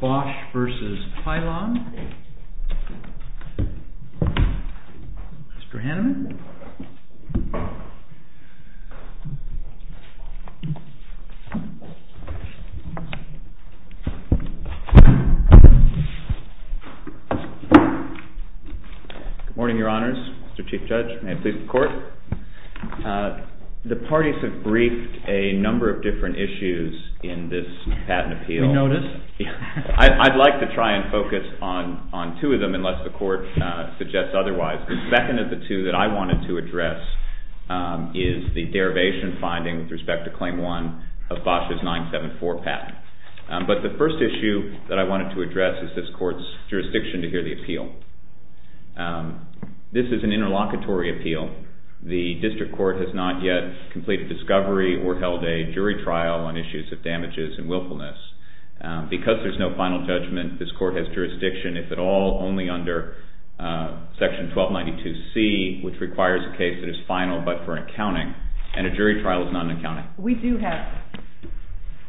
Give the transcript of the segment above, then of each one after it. BOSCH v. PYLON MFG CORP Good morning, Your Honors. Mr. Chief Judge, may it please the Court. The parties have briefed a number of different issues in this patent appeal. We noticed. I'd like to try and focus on two of them unless the Court suggests otherwise. The second of the two that I wanted to address is the derivation finding with respect to Claim 1 of BOSCH's 974 patent. But the first issue that I wanted to address is this Court's jurisdiction to hear the appeal. This is an interlocutory appeal. The District Court has not yet completed discovery or held a jury trial on issues of damages and willfulness. Because there's no final judgment, this Court has jurisdiction, if at all, only under Section 1292C, which requires a case that is final but for an accounting, and a jury trial is not an accounting. We do have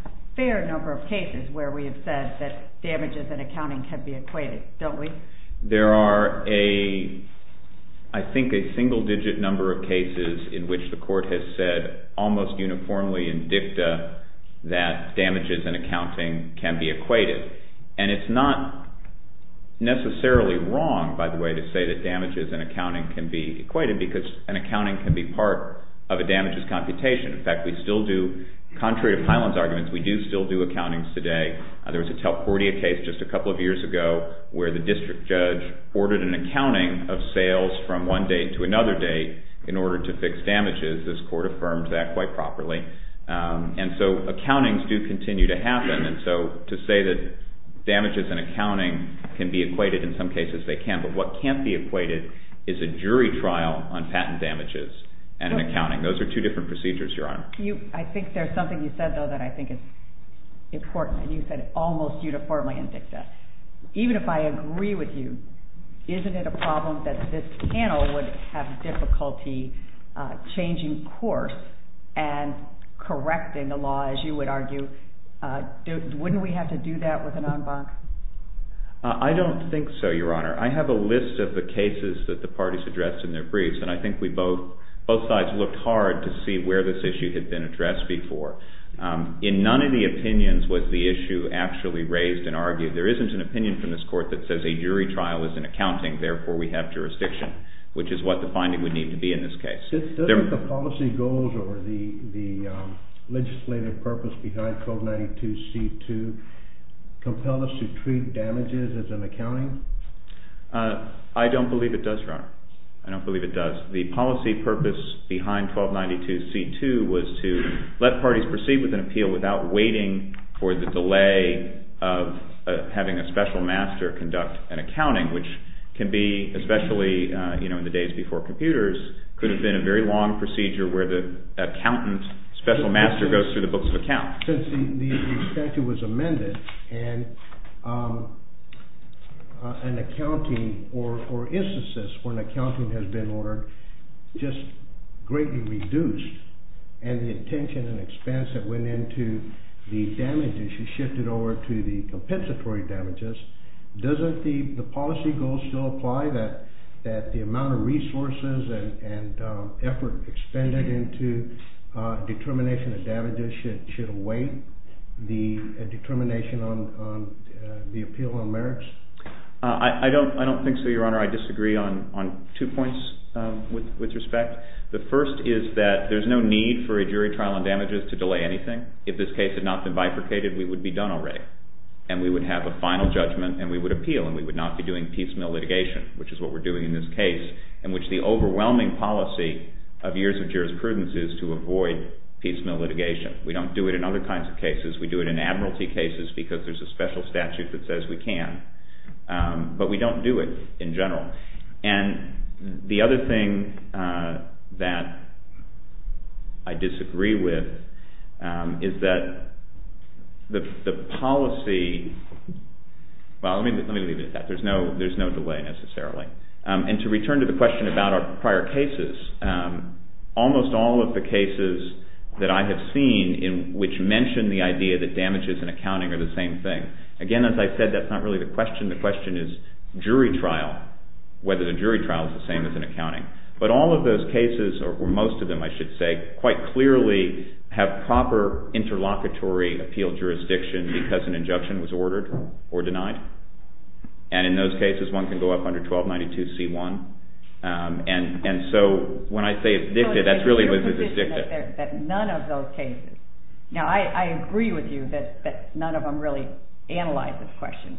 a fair number of cases where we have said that damages and accounting can be equated, don't we? There are, I think, a single-digit number of cases in which the Court has said, almost uniformly in dicta, that damages and accounting can be equated. And it's not necessarily wrong, by the way, to say that damages and accounting can be equated because an accounting can be part of a damages computation. In fact, we still do, contrary to Piland's arguments, we do still do accountings today. There was a Talportia case just a couple of years ago where the district judge ordered an accounting of sales from one date to another date in order to fix damages. This Court affirmed that quite properly. And so accountings do continue to happen, and so to say that damages and accounting can be equated, in some cases they can, but what can't be equated is a jury trial on patent damages and an accounting. Those are two different procedures, Your Honor. I think there's something you said, though, that I think is important, and you said almost uniformly in dicta. Even if I agree with you, isn't it a problem that this panel would have difficulty changing course and correcting the law, as you would argue? Wouldn't we have to do that with an en banc? I don't think so, Your Honor. I have a list of the cases that the parties addressed in their briefs, and I think both sides looked hard to see where this issue had been addressed before. In none of the opinions was the issue actually raised and argued. There isn't an opinion from this Court that says a jury trial is an accounting, therefore we have jurisdiction, which is what the finding would need to be in this case. Doesn't the policy goals or the legislative purpose behind 1292C2 compel us to treat damages as an accounting? I don't believe it does, Your Honor. I don't believe it does. The policy purpose behind 1292C2 was to let parties proceed with an appeal without waiting for the delay of having a special master conduct an accounting, which can be, especially in the days before computers, could have been a very long procedure where the accountant special master goes through the books of account. Since the statute was amended and an accounting or instances when accounting has been ordered just greatly reduced and the attention and expense that went into the damages is shifted over to the compensatory damages, doesn't the policy goal still apply that the amount of resources and effort expended into determination of damages should weigh the determination on the appeal on merits? I don't think so, Your Honor. I disagree on two points with respect. The first is that there's no need for a jury trial on damages to delay anything. If this case had not been bifurcated, we would be done already, and we would have a final judgment and we would appeal and we would not be doing piecemeal litigation, which is what we're doing in this case, in which the overwhelming policy of years of jurisprudence is to avoid piecemeal litigation. We don't do it in other kinds of cases. We do it in admiralty cases because there's a special statute that says we can, but we don't do it in general. And the other thing that I disagree with is that the policy… Well, let me leave it at that. There's no delay necessarily. And to return to the question about our prior cases, almost all of the cases that I have seen in which mention the idea that damages and accounting are the same thing, again, as I said, that's not really the question. The question is jury trial, whether the jury trial is the same as an accounting. But all of those cases, or most of them, I should say, quite clearly have proper interlocutory appeal jurisdiction because an injunction was ordered or denied. And in those cases, one can go up under 1292C1. And so when I say addicted, that's really what this is, addicted. So is it your position that none of those cases… Now I agree with you that none of them really analyze this question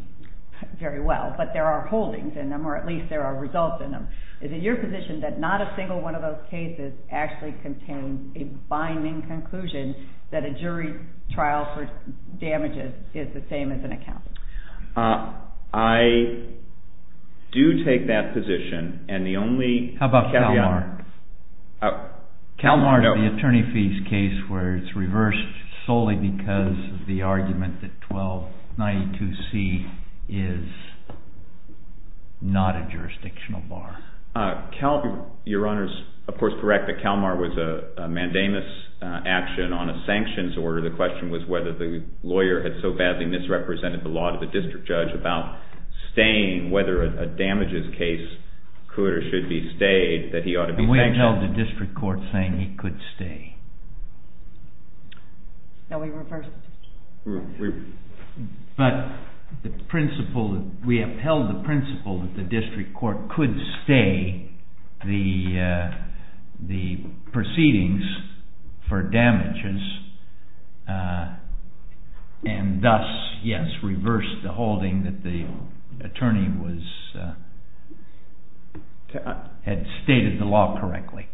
very well, but there are holdings in them, or at least there are results in them. Is it your position that not a single one of those cases actually contains a binding conclusion that a jury trial for damages is the same as an accounting? I do take that position, and the only caveat… How about CalMAR? CalMAR is the attorney fees case where it's reversed solely because of the argument that 1292C is not a jurisdictional bar. Your Honor is, of course, correct that CalMAR was a mandamus action on a sanctions order. The question was whether the lawyer had so badly misrepresented the law to the district judge about staying, whether a damages case could or should be stayed, that he ought to be sanctioned. We have held the district court saying he could stay. No, we reversed it. But we upheld the principle that the district court could stay the proceedings for damages and thus, yes, reversed the holding that the attorney had stated the law correctly.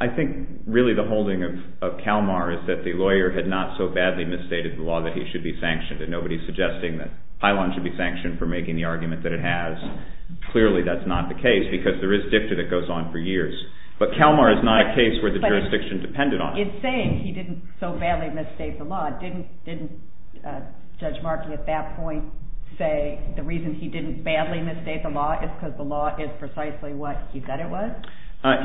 I think really the holding of CalMAR is that the lawyer had not so badly misstated the law that he should be sanctioned, and nobody is suggesting that Pylon should be sanctioned for making the argument that it has. Clearly, that's not the case because there is dicta that goes on for years. But CalMAR is not a case where the jurisdiction depended on it. In saying he didn't so badly misstate the law, didn't Judge Markey at that point say the reason he didn't badly misstate the law is because the law is precisely what he said it was?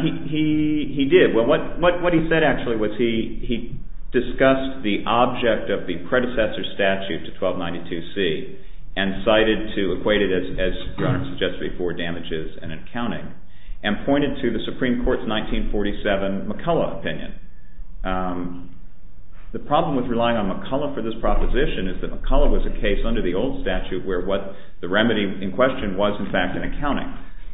He did. What he said, actually, was he discussed the object of the predecessor statute to 1292C and cited to equate it, as the owner suggested before, damages and accounting and pointed to the Supreme Court's 1947 McCullough opinion. The problem with relying on McCullough for this proposition is that McCullough was a case under the old statute where what the remedy in question was, in fact, an accounting.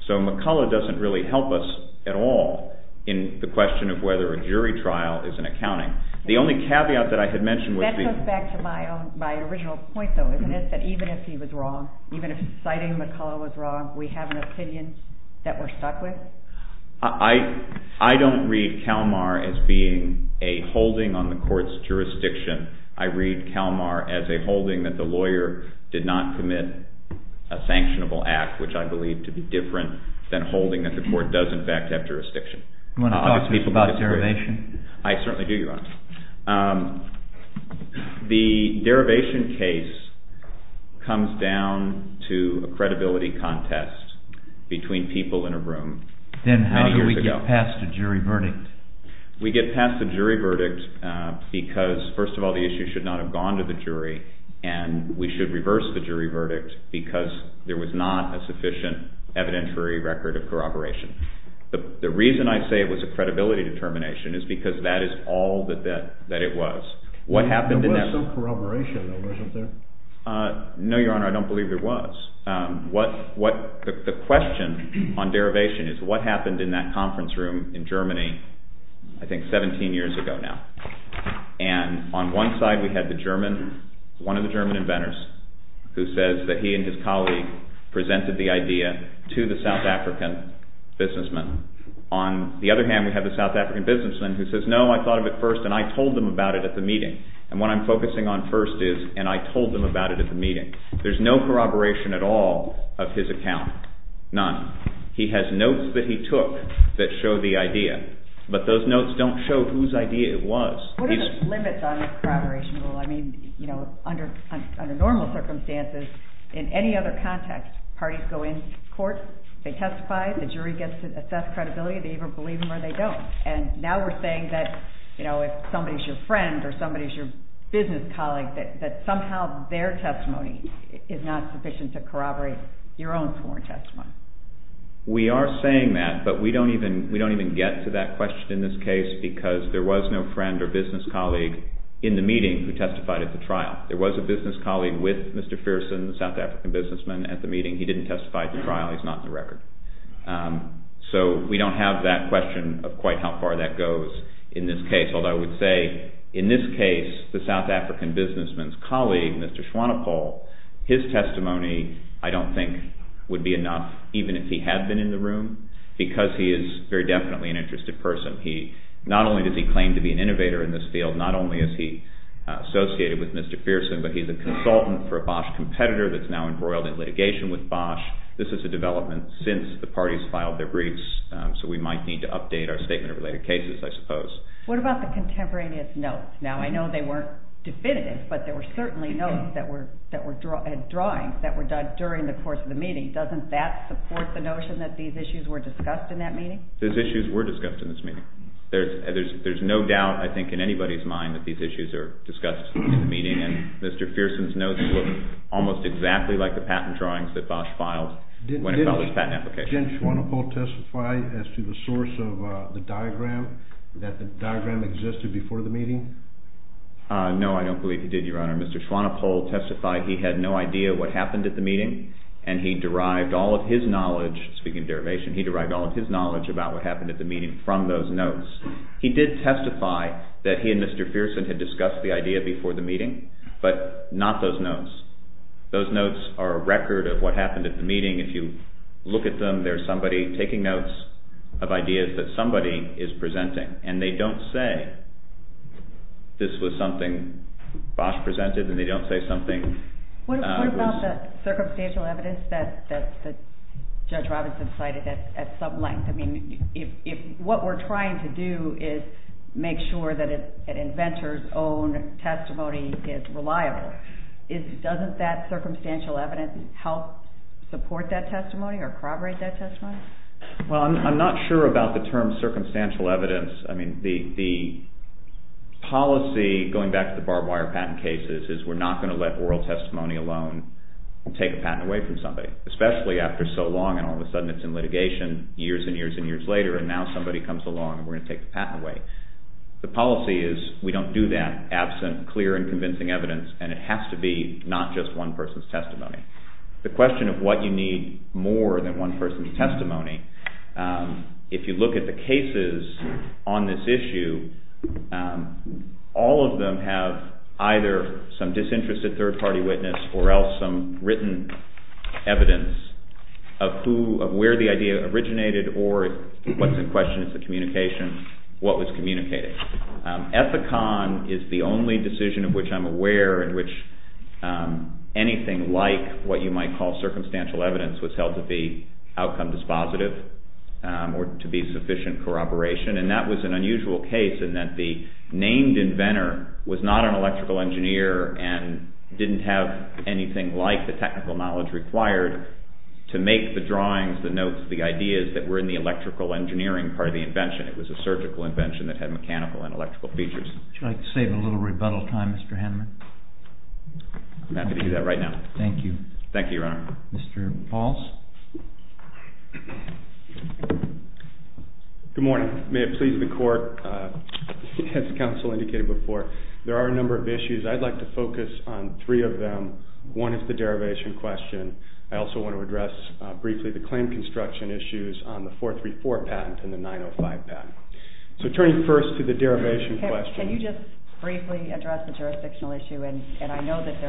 So McCullough doesn't really help us at all in the question of whether a jury trial is an accounting. The only caveat that I had mentioned was... That goes back to my original point, though, isn't it? That even if he was wrong, even if citing McCullough was wrong, we have an opinion that we're stuck with? I don't read CalMAR as being a holding on the court's jurisdiction. I read CalMAR as a holding that the lawyer did not commit a sanctionable act, which I believe to be different than holding that the court does, in fact, have jurisdiction. Do you want to talk to me about derivation? I certainly do, Your Honor. The derivation case comes down to a credibility contest between people in a room many years ago. Then how do we get past a jury verdict? We get past the jury verdict because, first of all, the issue should not have gone to the jury, and we should reverse the jury verdict because there was not a sufficient evidentiary record of corroboration. The reason I say it was a credibility determination is because that is all that it was. There was some corroboration, though, wasn't there? No, Your Honor, I don't believe there was. The question on derivation is what happened in that conference room in Germany, I think 17 years ago now. And on one side we had the German, one of the German inventors, who says that he and his colleague presented the idea to the South African businessman. On the other hand, we have the South African businessman who says, no, I thought of it first and I told them about it at the meeting. And what I'm focusing on first is, and I told them about it at the meeting. There's no corroboration at all of his account, none. He has notes that he took that show the idea. But those notes don't show whose idea it was. What are the limits on this corroboration rule? I mean, you know, under normal circumstances, in any other context, parties go in court, they testify, the jury gets to assess credibility, they either believe them or they don't. And now we're saying that, you know, if somebody's your friend or somebody's your business colleague, that somehow their testimony is not sufficient to corroborate your own sworn testimony. We are saying that, but we don't even get to that question in this case, because there was no friend or business colleague in the meeting who testified at the trial. There was a business colleague with Mr. Fearson, the South African businessman, at the meeting. He didn't testify at the trial. He's not in the record. So we don't have that question of quite how far that goes in this case. Although I would say, in this case, the South African businessman's colleague, Mr. Schwannepohl, his testimony I don't think would be enough, even if he had been in the room, because he is very definitely an interested person. Not only does he claim to be an innovator in this field, not only is he associated with Mr. Fearson, but he's a consultant for a Bosch competitor that's now embroiled in litigation with Bosch. This is a development since the parties filed their briefs, so we might need to update our statement of related cases, I suppose. What about the contemporaneous notes? Now, I know they weren't definitive, but there were certainly notes that were drawings that were done during the course of the meeting. Doesn't that support the notion that these issues were discussed in that meeting? Those issues were discussed in this meeting. There's no doubt, I think, in anybody's mind that these issues are discussed in the meeting, and Mr. Fearson's notes look almost exactly like the patent drawings that Bosch filed when he filed his patent application. Did Jens Schwanepoel testify as to the source of the diagram, that the diagram existed before the meeting? No, I don't believe he did, Your Honor. Mr. Schwanepoel testified he had no idea what happened at the meeting, and he derived all of his knowledge, speaking of derivation, he derived all of his knowledge about what happened at the meeting from those notes. He did testify that he and Mr. Fearson had discussed the idea before the meeting, but not those notes. Those notes are a record of what happened at the meeting. If you look at them, there's somebody taking notes of ideas that somebody is presenting, and they don't say this was something Bosch presented, and they don't say something was... What about the circumstantial evidence that Judge Robinson cited at some length? I mean, if what we're trying to do is make sure that an inventor's own testimony is reliable, doesn't that circumstantial evidence help support that testimony or corroborate that testimony? Well, I'm not sure about the term circumstantial evidence. I mean, the policy, going back to the barbed wire patent cases, is we're not going to let oral testimony alone take a patent away from somebody, especially after so long, and all of a sudden it's in litigation years and years and years later, and now somebody comes along and we're going to take the patent away. The policy is we don't do that absent clear and convincing evidence, and it has to be not just one person's testimony. The question of what you need more than one person's testimony, if you look at the cases on this issue, all of them have either some disinterested third-party witness or else some written evidence of where the idea originated or what's in question is the communication, what was communicated. Ethicon is the only decision of which I'm aware in which anything like what you might call circumstantial evidence was held to be outcome dispositive or to be sufficient corroboration, and that was an unusual case in that the named inventor was not an electrical engineer and didn't have anything like the technical knowledge required to make the drawings, the notes, the ideas that were in the electrical engineering part of the invention. It was a surgical invention that had mechanical and electrical features. Would you like to save a little rebuttal time, Mr. Haneman? I'm happy to do that right now. Thank you. Thank you, Your Honor. Mr. Pauls? Good morning. May it please the court, as counsel indicated before, there are a number of issues. I'd like to focus on three of them. One is the derivation question. I also want to address briefly the claim construction issues on the 434 patent and the 905 patent. So turning first to the derivation question. Can you just briefly address the jurisdictional issue? And I know that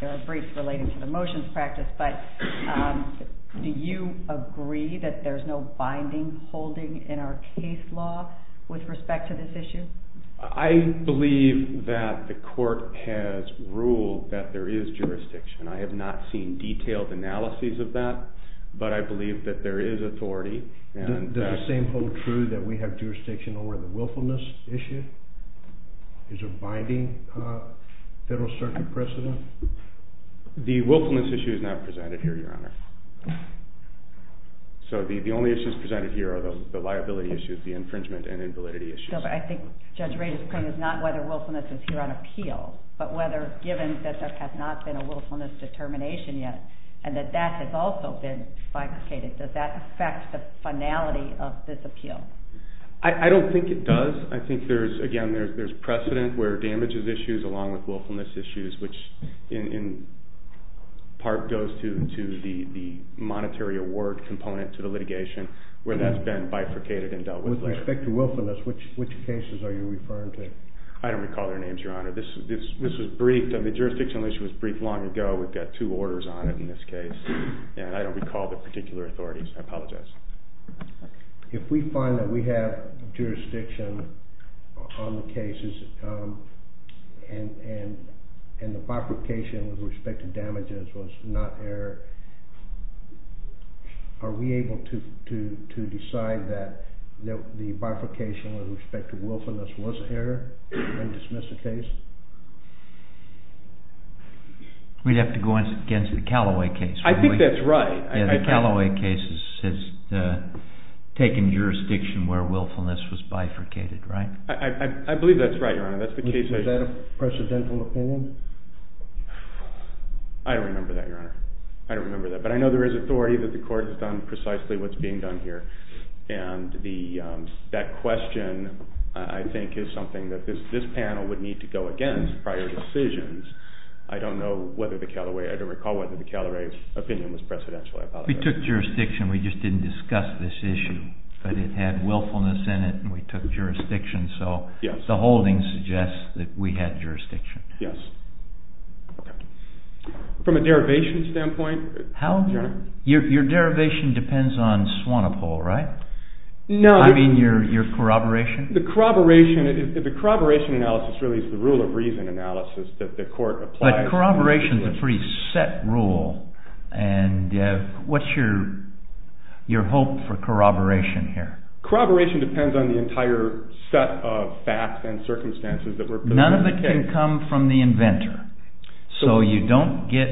there are briefs relating to the motions practice, but do you agree that there's no binding holding in our case law with respect to this issue? I believe that the court has ruled that there is jurisdiction. And I have not seen detailed analyses of that, but I believe that there is authority. Does the same hold true that we have jurisdiction over the willfulness issue? Is there a binding Federal Circuit precedent? The willfulness issue is not presented here, Your Honor. So the only issues presented here are the liability issues, the infringement and invalidity issues. I think Judge Ray's claim is not whether willfulness is here on appeal, but whether given that there has not been a willfulness determination yet and that that has also been bifurcated, does that affect the finality of this appeal? I don't think it does. I think, again, there's precedent where damages issues along with willfulness issues, which in part goes to the monetary award component to the litigation, where that's been bifurcated and dealt with. With respect to willfulness, which cases are you referring to? I don't recall their names, Your Honor. This was briefed. The jurisdiction issue was briefed long ago. We've got two orders on it in this case. And I don't recall the particular authorities. I apologize. If we find that we have jurisdiction on the cases and the bifurcation with respect to damages was not there, are we able to decide that the bifurcation with respect to willfulness was there and dismiss the case? We'd have to go against the Callaway case. I think that's right. The Callaway case has taken jurisdiction where willfulness was bifurcated, right? I believe that's right, Your Honor. Is that a precedental opinion? I don't remember that, Your Honor. I don't remember that. But I know there is authority that the court has done precisely what's being done here. And that question, I think, is something that this panel would need to go against prior to decisions. I don't know whether the Callaway, I don't recall whether the Callaway opinion was precedential, I apologize. We took jurisdiction. We just didn't discuss this issue. But it had willfulness in it, and we took jurisdiction. So the holding suggests that we had jurisdiction. Yes. From a derivation standpoint, Your Honor? Your derivation depends on Swanepoel, right? No. I mean your corroboration. The corroboration analysis really is the rule of reason analysis that the court applies. But corroboration is a pretty set rule. And what's your hope for corroboration here? Corroboration depends on the entire set of facts and circumstances that were presented. None of it can come from the inventor. So you don't get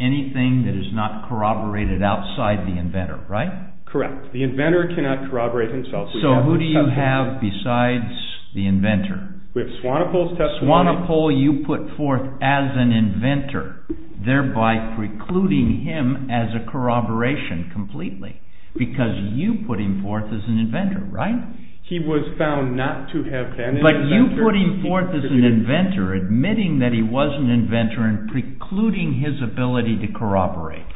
anything that is not corroborated outside the inventor, right? Correct. The inventor cannot corroborate himself. So who do you have besides the inventor? We have Swanepoel. Swanepoel you put forth as an inventor, thereby precluding him as a corroboration completely, because you put him forth as an inventor, right? He was found not to have been an inventor. But you put him forth as an inventor, admitting that he was an inventor and precluding his ability to corroborate.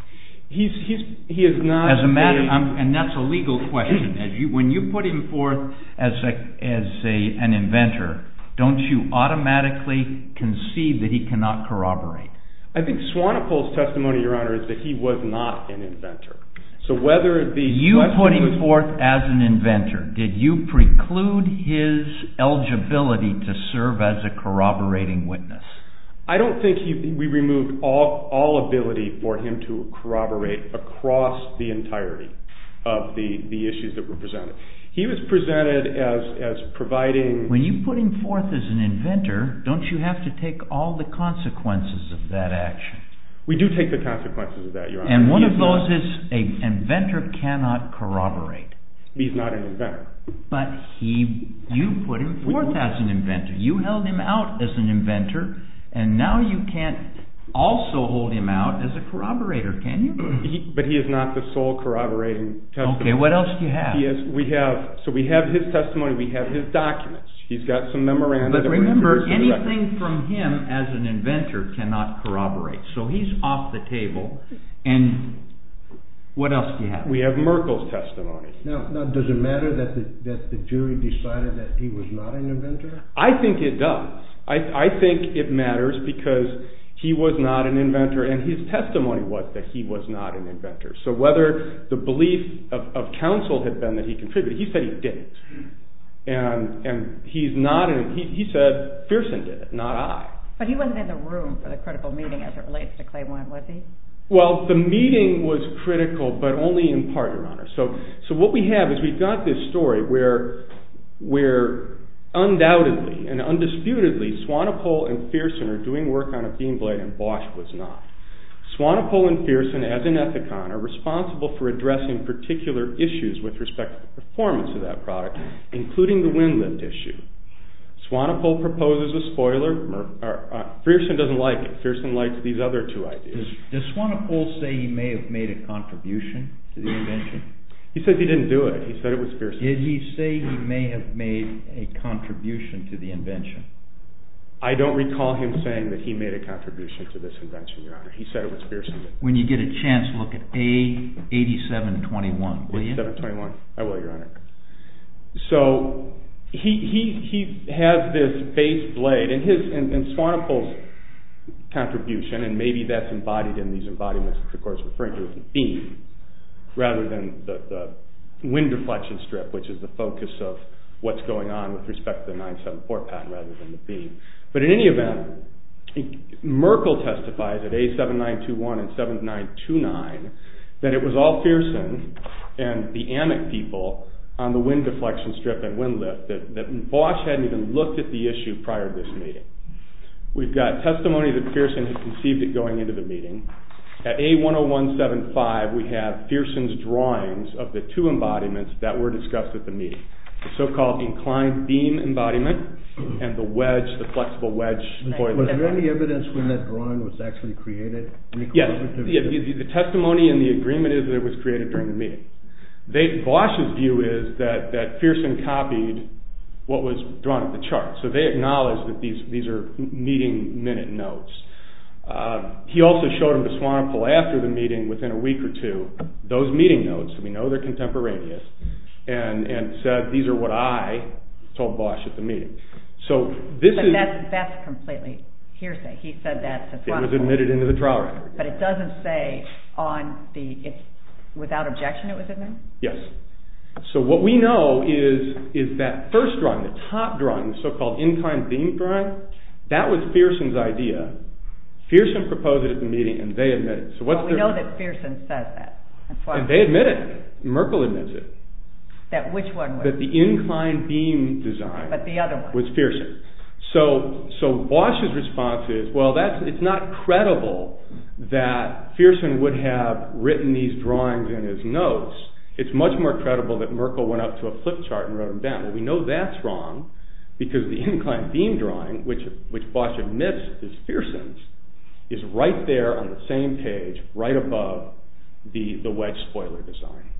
He is not a... And that's a legal question. When you put him forth as an inventor, don't you automatically concede that he cannot corroborate? I think Swanepoel's testimony, Your Honor, is that he was not an inventor. So whether the... You put him forth as an inventor. Did you preclude his eligibility to serve as a corroborating witness? I don't think we removed all ability for him to corroborate across the entirety of the issues that were presented. He was presented as providing... When you put him forth as an inventor, don't you have to take all the consequences of that action? We do take the consequences of that, Your Honor. And one of those is an inventor cannot corroborate. He's not an inventor. But you put him forth as an inventor. You held him out as an inventor, and now you can't also hold him out as a corroborator, can you? But he is not the sole corroborating testimony. Okay, what else do you have? So we have his testimony, we have his documents. He's got some memoranda. But remember, anything from him as an inventor cannot corroborate. So he's off the table. And what else do you have? We have Merkel's testimony. Now, does it matter that the jury decided that he was not an inventor? I think it does. I think it matters because he was not an inventor, and his testimony was that he was not an inventor. So whether the belief of counsel had been that he contributed, he said he didn't. And he said, Pearson did it, not I. But he wasn't in the room for the critical meeting as it relates to Claim 1, was he? Well, the meeting was critical, but only in part, Your Honor. So what we have is we've got this story where undoubtedly and undisputedly Swanepoel and Pearson are doing work on a beam blade and Bosch was not. Swanepoel and Pearson, as an ethicon, are responsible for addressing particular issues with respect to performance of that product, including the wind lift issue. Swanepoel proposes a spoiler. Pearson doesn't like it. Does Swanepoel say he may have made a contribution to the invention? He says he didn't do it. He said it was Pearson. Did he say he may have made a contribution to the invention? I don't recall him saying that he made a contribution to this invention, Your Honor. He said it was Pearson. When you get a chance, look at A8721, will you? A8721. I will, Your Honor. So he has this base blade, and Swanepoel's contribution, and maybe that's embodied in these embodiments, which of course we're referring to as the beam, rather than the wind deflection strip, which is the focus of what's going on with respect to the 974 patent rather than the beam. But in any event, Merkel testifies at A7921 and 7929 that it was all Pearson and the AMIC people on the wind deflection strip and wind lift, that Bosch hadn't even looked at the issue prior to this meeting. We've got testimony that Pearson had conceived it going into the meeting. At A10175, we have Pearson's drawings of the two embodiments that were discussed at the meeting, the so-called inclined beam embodiment and the wedge, the flexible wedge spoiler. Was there any evidence when that drawing was actually created? Yes. The testimony and the agreement is that it was created during the meeting. Bosch's view is that Pearson copied what was drawn at the chart, so they acknowledged that these are meeting minute notes. He also showed them to Swanepoel after the meeting within a week or two, those meeting notes, we know they're contemporaneous, and said these are what I told Bosch at the meeting. But that's completely hearsay. He said that to Swanepoel. But it doesn't say without objection it was admitted? Yes. So what we know is that first drawing, the top drawing, the so-called inclined beam drawing, that was Pearson's idea. Pearson proposed it at the meeting and they admitted it. Well, we know that Pearson said that. And they admitted it. Merkle admits it. That which one was it? That the inclined beam design was Pearson. So Bosch's response is, well, it's not credible that Pearson would have written these drawings in his notes. It's much more credible that Merkle went up to a flip chart and wrote them down. Well, we know that's wrong because the inclined beam drawing, which Bosch admits is Pearson's, is right there on the same page, right above the wedge spoiler design.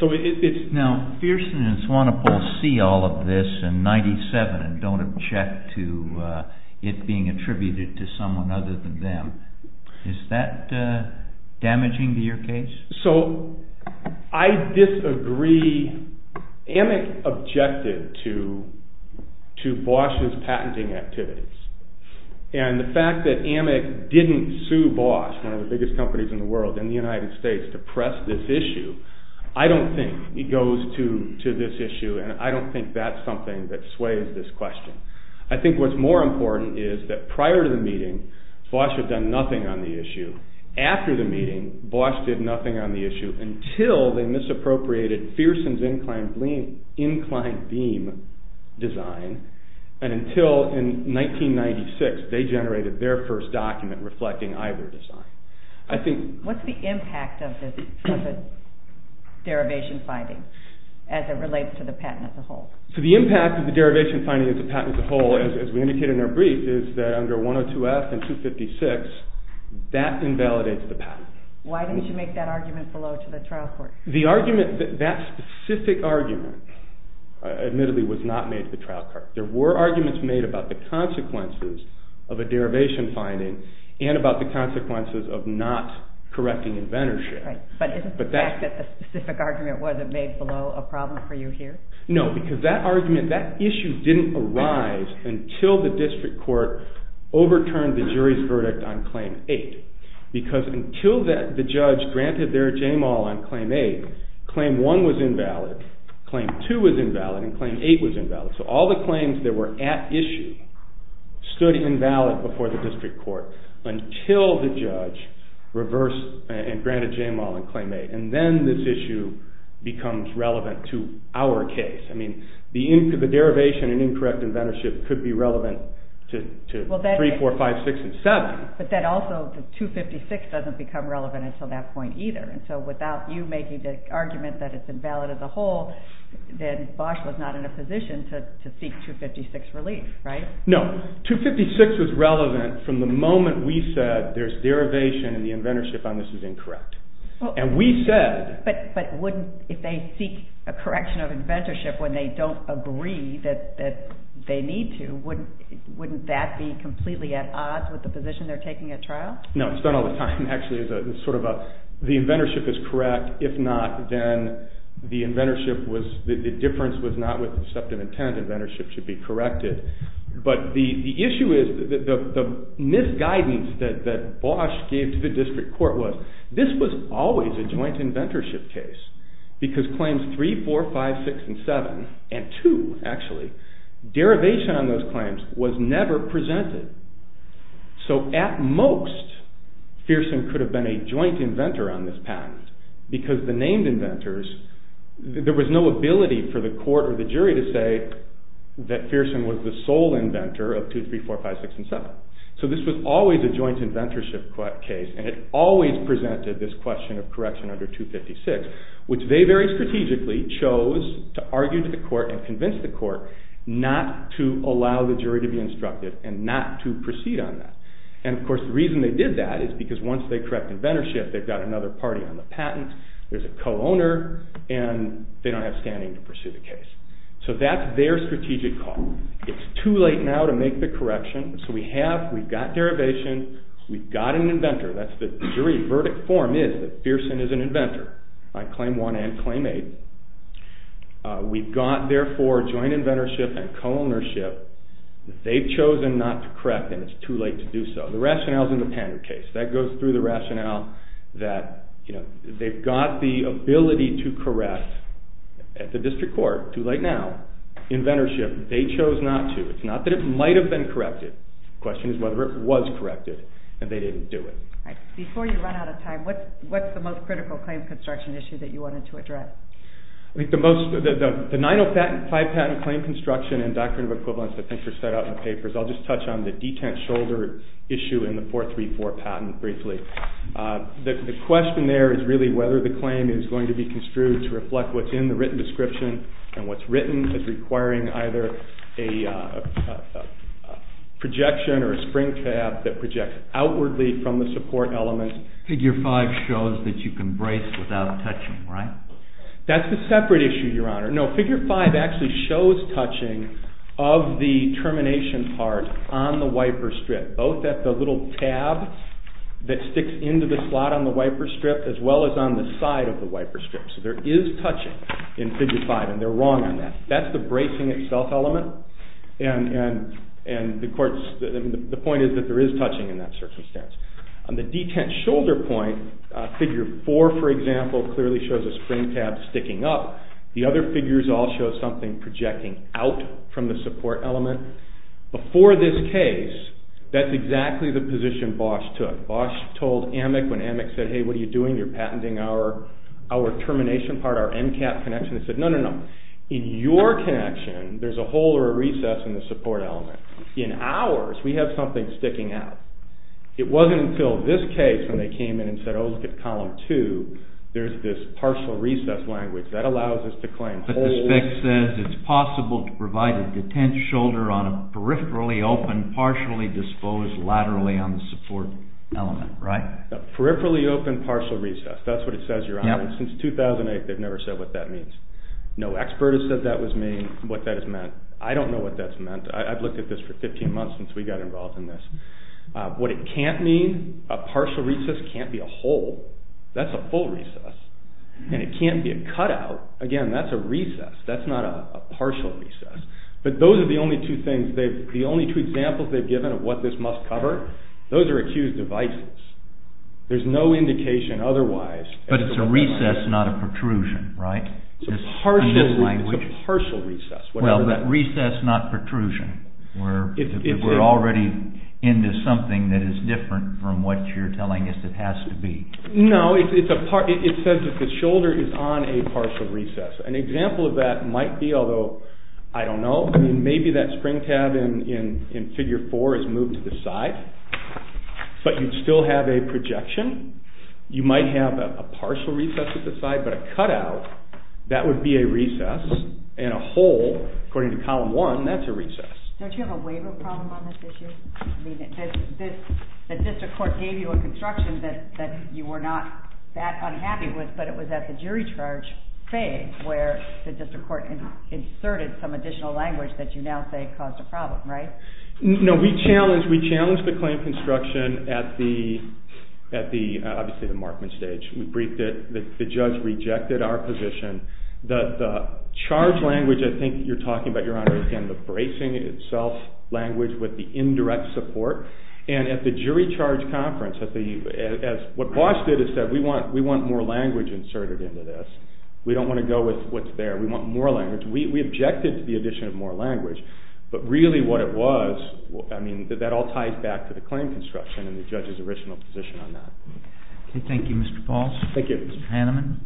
So it's now Pearson and Swanepoel see all of this in 97 and don't object to it being attributed to someone other than them. Is that damaging to your case? So I disagree. Amick objected to Bosch's patenting activities. And the fact that Amick didn't sue Bosch, one of the biggest companies in the world, in the United States to press this issue, I don't think it goes to this issue and I don't think that's something that sways this question. I think what's more important is that prior to the meeting, Bosch had done nothing on the issue. After the meeting, Bosch did nothing on the issue until they misappropriated Pearson's inclined beam design and until in 1996 they generated their first document reflecting either design. What's the impact of the derivation finding as it relates to the patent as a whole? So the impact of the derivation finding as a patent as a whole, as we indicated in our brief, is that under 102F and 256, that invalidates the patent. Why didn't you make that argument below to the trial court? That specific argument, admittedly, was not made to the trial court. There were arguments made about the consequences of a derivation finding and about the consequences of not correcting inventorship. But isn't the fact that the specific argument wasn't made below a problem for you here? No, because that argument, that issue didn't arise until the district court overturned the jury's verdict on Claim 8. Because until the judge granted their JAMAL on Claim 8, Claim 1 was invalid, Claim 2 was invalid, and Claim 8 was invalid. So all the claims that were at issue stood invalid before the district court until the judge reversed and granted JAMAL on Claim 8. And then this issue becomes relevant to our case. I mean, the derivation and incorrect inventorship could be relevant to 3, 4, 5, 6, and 7. But then also, 256 doesn't become relevant until that point either. So without you making the argument that it's invalid as a whole, then Bosch was not in a position to seek 256 relief, right? No. 256 was relevant from the moment we said there's derivation and the inventorship on this is incorrect. And we said... But wouldn't, if they seek a correction of inventorship when they don't agree that they need to, wouldn't that be completely at odds with the position they're taking at trial? No. It's done all the time, actually. It's sort of a, the inventorship is correct. If not, then the inventorship was, the difference was not with the deceptive intent. Inventorship should be corrected. But the issue is, the misguidance that Bosch gave to the district court was, this was always a joint inventorship case. Because Claims 3, 4, 5, 6, and 7, and 2, actually, derivation on those claims was never presented. So, at most, Fearson could have been a joint inventor on this patent. Because the named inventors, there was no ability for the court or the jury to say that Fearson was the sole inventor of 2, 3, 4, 5, 6, and 7. So this was always a joint inventorship case and it always presented this question of correction under 256, which they very strategically chose to argue to the court and convince the court not to allow the jury to be instructed and not to proceed on that. And, of course, the reason they did that is because once they correct inventorship, they've got another party on the patent, there's a co-owner, and they don't have standing to pursue the case. So that's their strategic call. It's too late now to make the correction. So we have, we've got derivation, we've got an inventor. That's the jury verdict form is that Fearson is an inventor, on Claim 1 and Claim 8. We've got, therefore, joint inventorship and co-ownership. They've chosen not to correct, and it's too late to do so. The rationale is in the patent case. That goes through the rationale that, you know, they've got the ability to correct at the district court. Too late now. Inventorship, they chose not to. It's not that it might have been corrected. The question is whether it was corrected, and they didn't do it. Before you run out of time, what's the most critical claim construction issue that you wanted to address? I think the most, the 905 patent claim construction and doctrine of equivalence that I think were set out in the papers, I'll just touch on the detent shoulder issue in the 434 patent briefly. The question there is really whether the claim is going to be construed to reflect what's in the written description, and what's written is requiring either a projection or a spring tab that projects outwardly from the support element. Figure 5 shows that you can brace without touching, right? That's a separate issue, Your Honor. No, Figure 5 actually shows touching of the termination part on the wiper strip, both at the little tab that sticks into the slot on the wiper strip as well as on the side of the wiper strip. So there is touching in Figure 5, and they're wrong on that. That's the bracing itself element, and the point is that there is touching in that circumstance. On the detent shoulder point, Figure 4, for example, clearly shows a spring tab sticking up. The other figures all show something projecting out from the support element. Before this case, that's exactly the position Bosch took. Bosch told AMIC when AMIC said, Hey, what are you doing? You're patenting our termination part, our end cap connection. They said, No, no, no. In your connection, there's a hole or a recess in the support element. In ours, we have something sticking out. It wasn't until this case when they came in and said, Oh, look at Column 2, there's this partial recess language. That allows us to claim holes. But the spec says it's possible to provide a detent shoulder on a peripherally open, partially disposed laterally on the support element, right? A peripherally open partial recess. That's what it says, Your Honor. Since 2008, they've never said what that means. No expert has said that was me, what that has meant. I don't know what that's meant. I've looked at this for 15 months since we got involved in this. What it can't mean, a partial recess can't be a hole. That's a full recess. And it can't be a cutout. Again, that's a recess. That's not a partial recess. But those are the only two things, the only two examples they've given of what this must cover, those are accused of vices. There's no indication otherwise. But it's a recess, not a protrusion, right? It's a partial recess. Well, that recess, not protrusion. We're already into something that is different from what you're telling us it has to be. No, it says that the shoulder is on a partial recess. An example of that might be, although I don't know, maybe that spring tab in Figure 4 is moved to the side. But you'd still have a projection. You might have a partial recess at the side, but a cutout, that would be a recess. And a hole, according to Column 1, that's a recess. Don't you have a waiver problem on this issue? I mean, the district court gave you a construction that you were not that unhappy with, but it was at the jury charge phase where the district court inserted some additional language that you now say caused a problem, right? No, we challenged the claim construction at the, obviously, the Markman stage. We briefed it. The judge rejected our position. The charge language I think you're talking about, Your Honor, again, the bracing itself, language with the indirect support. And at the jury charge conference, what Bosch did is said, we want more language inserted into this. We don't want to go with what's there. We want more language. We objected to the addition of more language. But really what it was, I mean, that all ties back to the claim construction and the judge's original position on that. Okay, thank you, Mr. Bosch. Thank you. Thank you, Mr. Hanneman.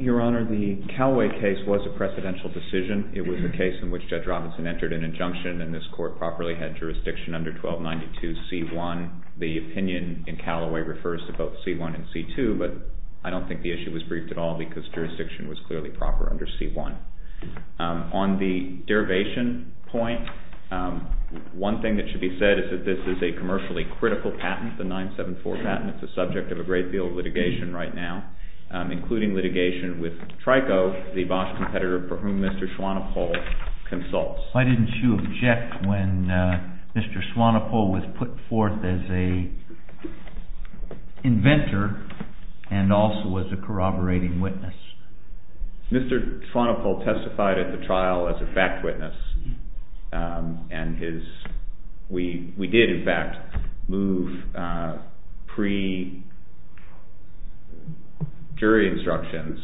Your Honor, the Callaway case was a precedential decision. It was a case in which Judge Robinson entered an injunction, and this court properly had jurisdiction under 1292C1. The opinion in Callaway refers to both C1 and C2, but I don't think the issue was briefed at all because jurisdiction was clearly proper under C1. On the derivation point, one thing that should be said is that this is a commercially critical patent, the 974 patent that's the subject of a great deal of litigation right now, including litigation with Trico, the Bosch competitor for whom Mr. Swanepoel consults. Why didn't you object when Mr. Swanepoel was put forth as an inventor and also was a corroborating witness? Mr. Swanepoel testified at the trial as a fact witness, and we did, in fact, move pre-jury instructions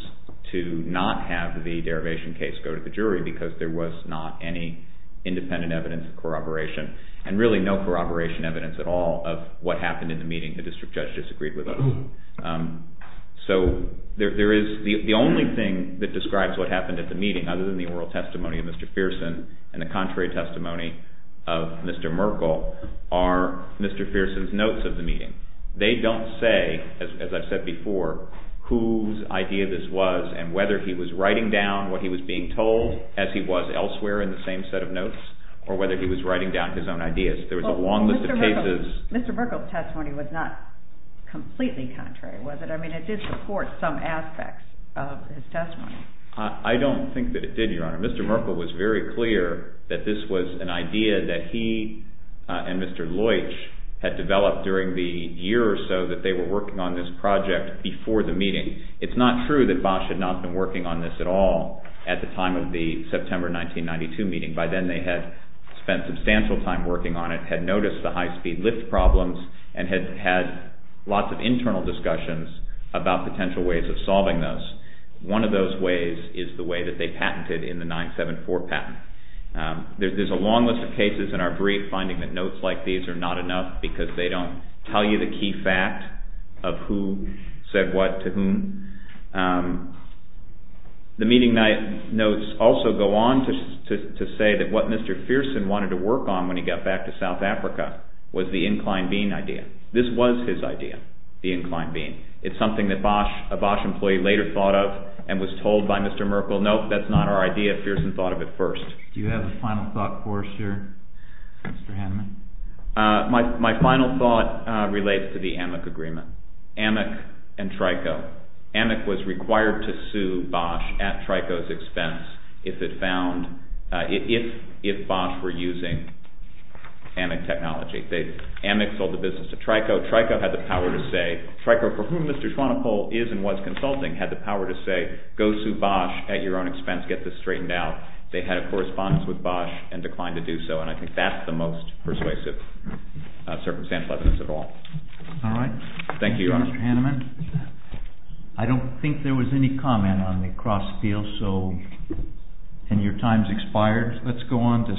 to not have the derivation case go to the jury because there was not any independent evidence of corroboration and really no corroboration evidence at all of what happened in the meeting. The district judge disagreed with us. So the only thing that describes what happened at the meeting, other than the oral testimony of Mr. Pearson and the contrary testimony of Mr. Merkel, are Mr. Pearson's notes of the meeting. They don't say, as I've said before, whose idea this was and whether he was writing down what he was being told as he was elsewhere in the same set of notes or whether he was writing down his own ideas. There was a long list of cases. Mr. Merkel's testimony was not completely contrary, was it? I mean, it did support some aspects of his testimony. I don't think that it did, Your Honor. Mr. Merkel was very clear that this was an idea that he and Mr. Loich had developed during the year or so that they were working on this project before the meeting. It's not true that Bosch had not been working on this at all at the time of the September 1992 meeting. By then, they had spent substantial time working on it, had noticed the high-speed lift problems, and had had lots of internal discussions about potential ways of solving those. One of those ways is the way that they patented in the 974 patent. There's a long list of cases in our brief finding that notes like these are not enough because they don't tell you the key fact of who said what to whom. The meeting notes also go on to say that what Mr. Pearson wanted to work on when he got back to South Africa was the inclined bean idea. This was his idea, the inclined bean. It's something that a Bosch employee later thought of and was told by Mr. Merkel, nope, that's not our idea. Pearson thought of it first. Do you have a final thought, Forrester, Mr. Haneman? My final thought relates to the AMIC agreement, AMIC and Trico. AMIC was required to sue Bosch at Trico's expense if Bosch were using AMIC technology. AMIC sold the business to Trico. Trico had the power to say, Trico for whom Mr. Swanepoel is and was consulting had the power to say go sue Bosch at your own expense, get this straightened out. They had a correspondence with Bosch and declined to do so, and I think that's the most persuasive circumstantial evidence of all. All right. Thank you, Mr. Haneman. I don't think there was any comment on the cross-deal and your time's expired. Let's go on to...